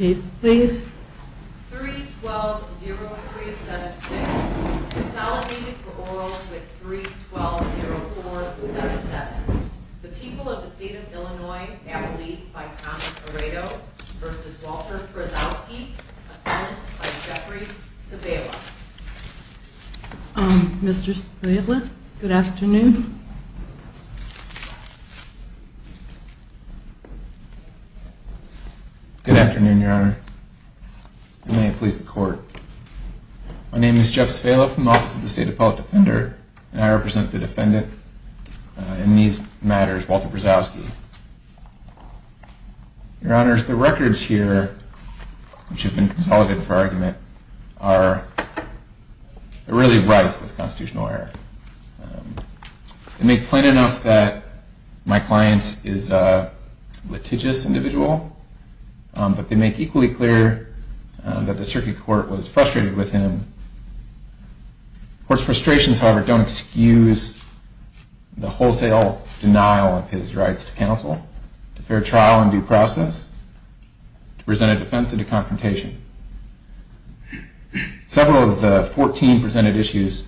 312-0376 Consolidated for Orals with 312-0477 The People of the State of Illinois, Appellee by Thomas Aredo v. Walter Brzowski, Appellant by Jeffrey Civella Mr. Civella, good afternoon. Good afternoon, Your Honor. May it please the Court. My name is Jeff Civella from the Office of the State Appellate Defender, and I represent the defendant in these matters, Walter Brzowski. Your Honor, the records here, which have been consolidated for argument, are really rife with constitutional error. They make plain enough that my client is a litigious individual, but they make equally clear that the Circuit Court was frustrated with him. Court's frustrations, however, don't excuse the wholesale denial of his rights to counsel, to fair trial and due process, to presented defense, and to confrontation. Several of the 14 presented issues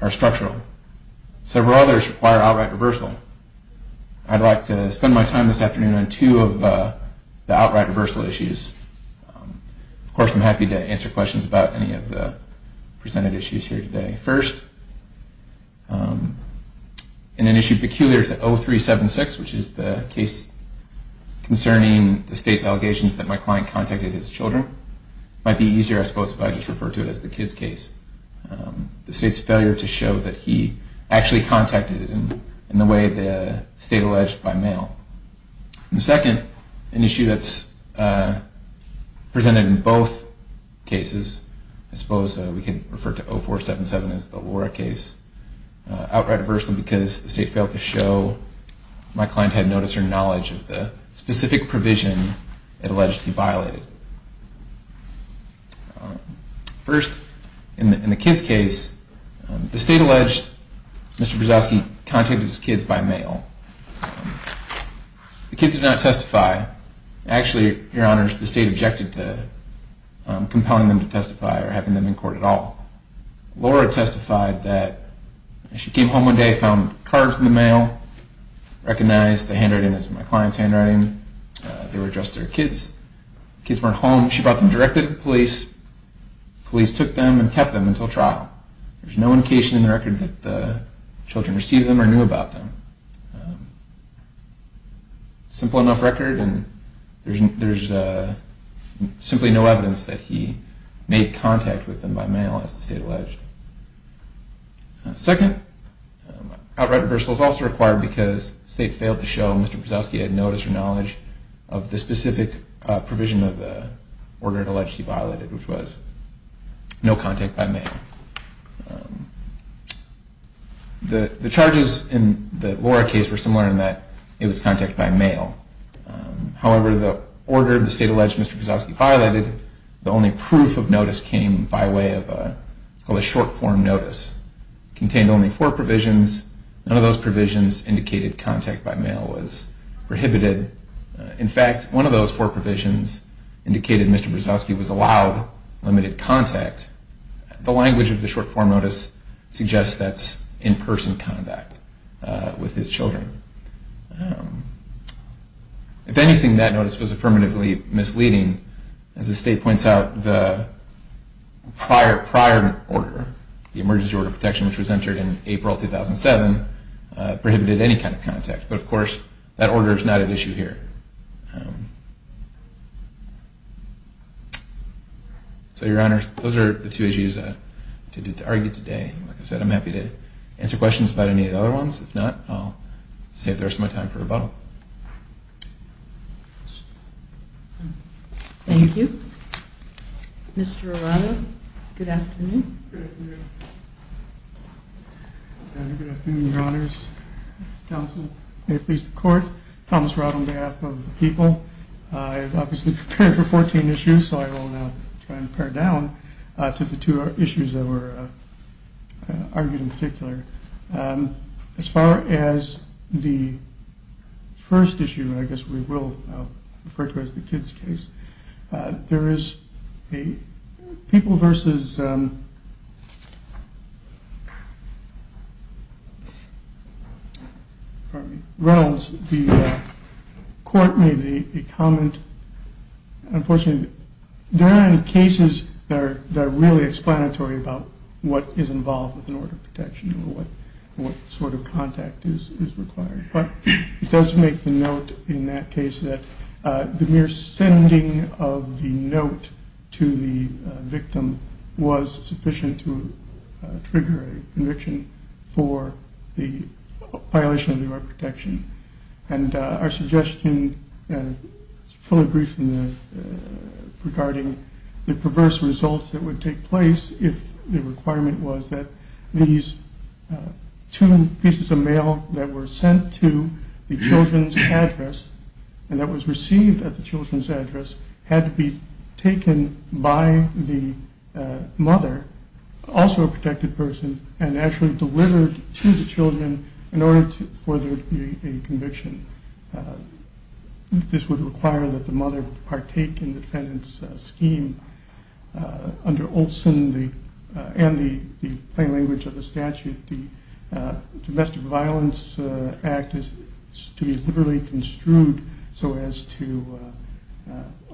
are structural. Several others require outright reversal. I'd like to spend my time this afternoon on two of the outright reversal issues. Of course, I'm happy to answer questions about any of the presented issues here today. First, in an issue peculiar to 0376, which is the case concerning the State's allegations that my client contacted his children, it might be easier, I suppose, if I just refer to it as the kid's case. The State's failure to show that he actually contacted them in the way the State alleged by mail. And second, an issue that's presented in both cases, I suppose we can refer to 0477 as the Laura case. Outright reversal because the State failed to show my client had notice or knowledge of the specific provision it alleged he violated. First, in the kid's case, the State alleged Mr. Brzozowski contacted his kids by mail. The kids did not testify. Actually, Your Honors, the State objected to compelling them to testify or having them in court at all. Laura testified that she came home one day, found cards in the mail, recognized the handwriting as my client's handwriting. They were addressed to her kids. The kids weren't home. She brought them directly to the police. The police took them and kept them until trial. There's no indication in the record that the children received them or knew about them. Simple enough record, and there's simply no evidence that he made contact with them by mail, as the State alleged. Second, outright reversal is also required because the State failed to show Mr. Brzozowski had notice or knowledge of the specific provision of the order it alleged he violated, which was no contact by mail. The charges in the Laura case were similar in that it was contact by mail. However, the order the State alleged Mr. Brzozowski violated, the only proof of notice came by way of a short-form notice. It contained only four provisions. None of those provisions indicated contact by mail was prohibited. In fact, one of those four provisions indicated Mr. Brzozowski was allowed limited contact. The language of the short-form notice suggests that's in-person contact with his children. If anything, that notice was affirmatively misleading. As the State points out, the prior order, the Emergency Order of Protection, which was entered in April 2007, prohibited any kind of contact. But of course, that order is not at issue here. So, Your Honors, those are the two issues to argue today. Like I said, I'm happy to answer questions about any of the other ones. If not, I'll save the rest of my time for rebuttal. Thank you. Mr. Arado, good afternoon. Good afternoon. Good afternoon, Your Honors. Counsel, may it please the Court, Thomas Arado on behalf of the people. I've obviously prepared for 14 issues, so I will now try and pare down to the two issues that were argued in particular. As far as the first issue, I guess we will refer to as the kids' case, there is a people versus Reynolds. The Court made a comment. Unfortunately, there aren't any cases that are really explanatory about what is involved with an order of protection or what sort of contact is required. But it does make the note in that case that the mere sending of the note to the victim was sufficient to trigger a conviction for the violation of the order of protection. And our suggestion fully agrees regarding the perverse results that would take place if the requirement was that these two pieces of mail that were sent to the children's address and that was received at the children's address had to be taken by the mother, also a protected person, and actually delivered to the children in order for there to be a conviction. This would require that the mother partake in the defendant's scheme. Under Olson and the plain language of the statute, the Domestic Violence Act is to be literally construed so as to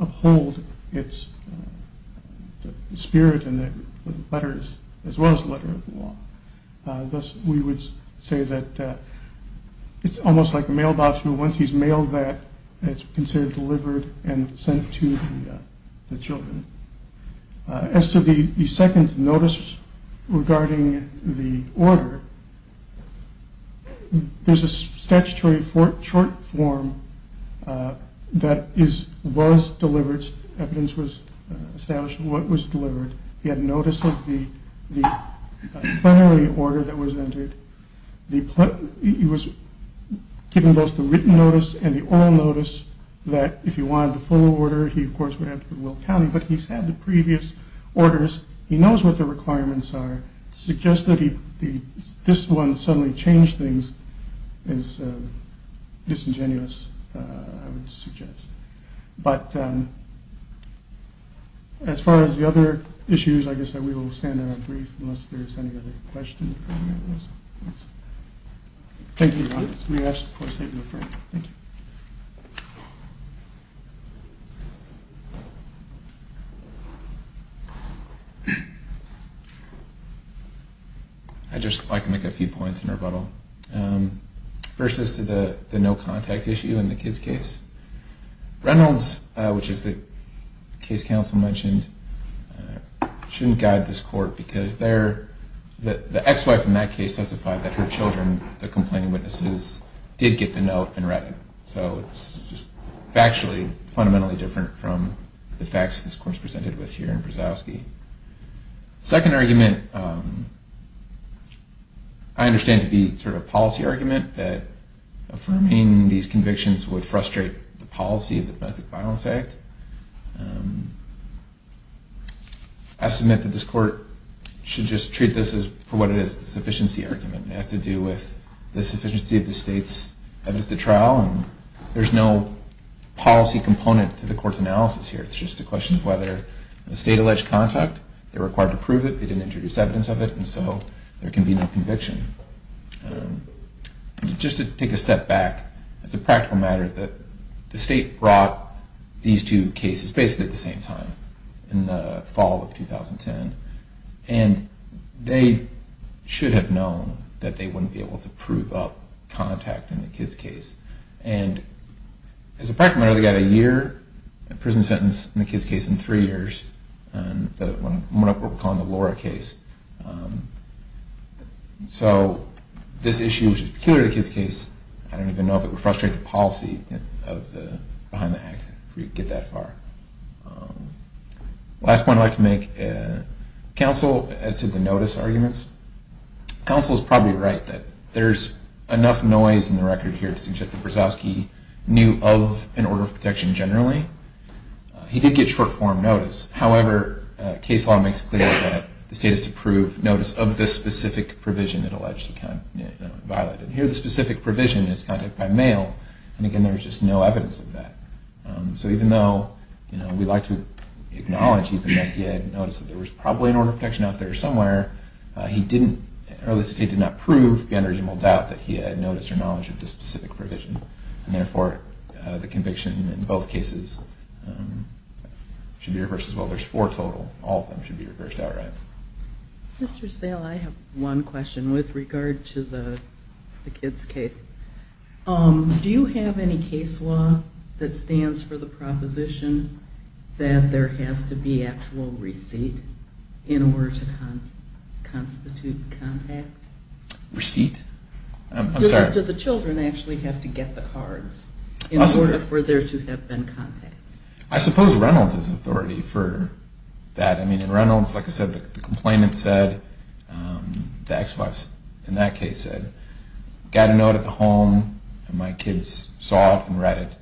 uphold its spirit and the letters as well as the letter of the law. Thus, we would say that it's almost like a mailbox. Once he's mailed that, it's considered delivered and sent to the children. As to the second notice regarding the order, there's a statutory short form that was delivered. Evidence was established of what was delivered. He had notice of the plenary order that was entered. He was given both the written notice and the oral notice that if he wanted the full order, he of course would have to go to Will County, but he's had the previous orders. He knows what the requirements are. To suggest that this one suddenly changed things is disingenuous, I would suggest. But as far as the other issues, I guess we will stand on a brief unless there's any other questions. I'd just like to make a few points in rebuttal. First is to the no contact issue in the kids case. Reynolds, which is the case counsel mentioned, shouldn't guide this court because the ex-wife in that case testified that her children, the complaining witnesses, did get the note and read it. So it's just factually, fundamentally different from the facts this court's presented with here in Brzozowski. Second argument, I understand to be sort of a policy argument, that affirming these convictions would frustrate the policy of the Domestic Violence Act. I submit that this court should just treat this for what it is, a sufficiency argument. It has to do with the sufficiency of the state's evidence to trial. There's no policy component to the court's analysis here. It's just a question of whether the state alleged contact, they were required to prove it, they didn't introduce evidence of it, and so there can be no conviction. Just to take a step back, it's a practical matter that the state brought these two cases basically at the same time, in the fall of 2010. And they should have known that they wouldn't be able to prove up contact in the kids case. And as a practical matter, they got a year in prison sentence in the kids case and three years in the Laura case. So this issue, which is peculiar to the kids case, I don't even know if it would frustrate the policy behind the act if we get that far. Last point I'd like to make, counsel, as to the notice arguments, counsel's probably right that there's enough noise in the record here to suggest that Brzozowski knew of an order of protection generally. He did get short-form notice. However, case law makes clear that the state has to prove notice of the specific provision it alleged he violated. Here the specific provision is contact by mail, and again there's just no evidence of that. So even though we'd like to acknowledge even that he had notice that there was probably an order of protection out there somewhere, the state did not prove beyond reasonable doubt that he had notice or knowledge of the specific provision. And therefore, the conviction in both cases should be reversed as well. There's four total. All of them should be reversed outright. Mr. Sveal, I have one question with regard to the kids case. Do you have any case law that stands for the proposition that there has to be actual receipt in order to constitute contact? Receipt? I'm sorry. Do the children actually have to get the cards in order for there to have been contact? I suppose Reynolds has authority for that. I mean, in Reynolds, like I said, the complainant said, the ex-wife in that case said, I got a note at the home and my kids saw it and read it,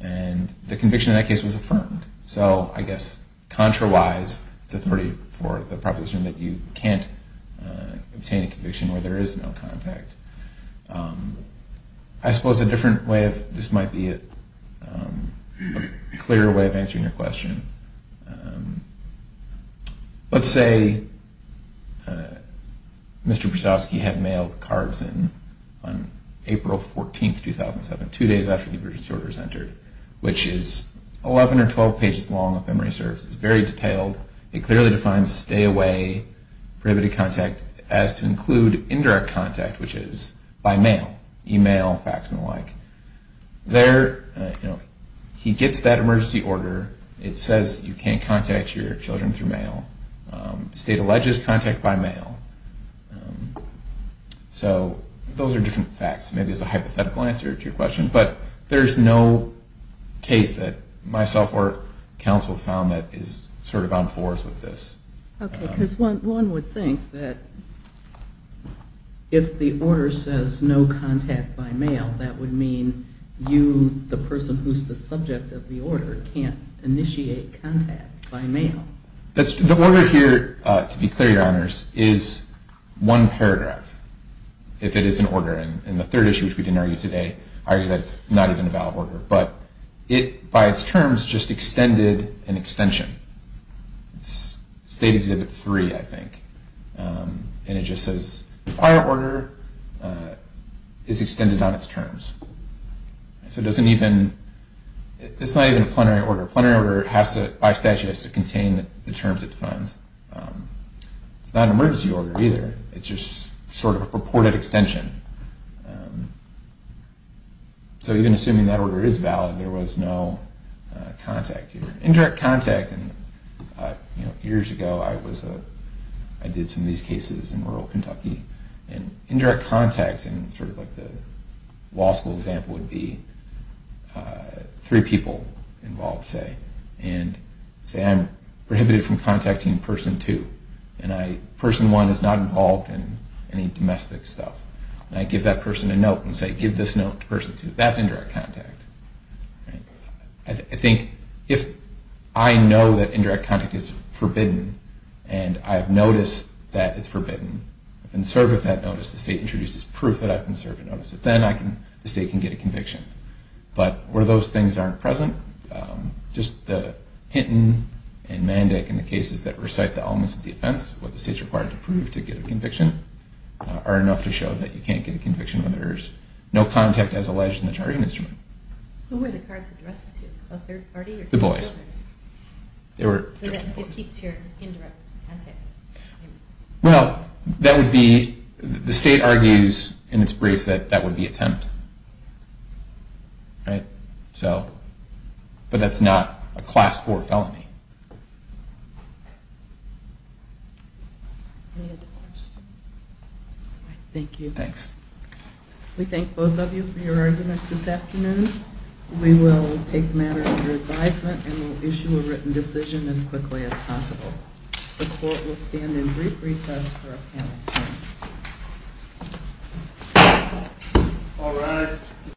and the conviction in that case was affirmed. So, I guess, contra-wise, it's authority for the proposition that you can't obtain a conviction where there is no contact. I suppose a different way of, this might be a clearer way of answering your question. Let's say Mr. Brzozowski had mailed the cards in on April 14, 2007, two days after the emergency order was entered, which is 11 or 12 pages long of memory service. It's very detailed. It clearly defines stay away, prohibited contact, as to include indirect contact, which is by mail, e-mail, fax, and the like. There, he gets that emergency order. It says you can't contact your children through mail. The state alleges contact by mail. So, those are different facts. Maybe it's a hypothetical answer to your question. But there's no case that myself or counsel found that is sort of on fours with this. Okay, because one would think that if the order says no contact by mail, that would mean you, the person who's the subject of the order, can't initiate contact by mail. The order here, to be clear, Your Honors, is one paragraph, if it is an order. And the third issue, which we didn't argue today, I argue that it's not even a valid order. But it, by its terms, just extended an extension. It's State Exhibit 3, I think. And it just says the prior order is extended on its terms. It's not even a plenary order. A plenary order, by statute, has to contain the terms it defines. It's not an emergency order, either. It's just sort of a purported extension. So, even assuming that order is valid, there was no contact here. Indirect contact. Years ago, I did some of these cases in rural Kentucky. And indirect contact, sort of like the law school example, would be three people involved, say. And say I'm prohibited from contacting person two. And person one is not involved in any domestic stuff. And I give that person a note and say, give this note to person two. That's indirect contact. I think if I know that indirect contact is forbidden, and I've noticed that it's forbidden, I've been served with that notice, the State introduces proof that I've been served a notice, then the State can get a conviction. But where those things aren't present, just the Hinton and Mandick, and the cases that recite the elements of defense, what the State's required to prove to get a conviction, are enough to show that you can't get a conviction when there's no contact as alleged in the charging instrument. Who were the cards addressed to? A third party? The boys. So that it keeps your indirect contact? Well, that would be, the State argues in its brief that that would be attempt. But that's not a class four felony. Thank you. Thanks. We thank both of you for your arguments this afternoon. We will take matters under advisement and will issue a written decision as quickly as possible. The court will stand in brief recess for a panel. All rise.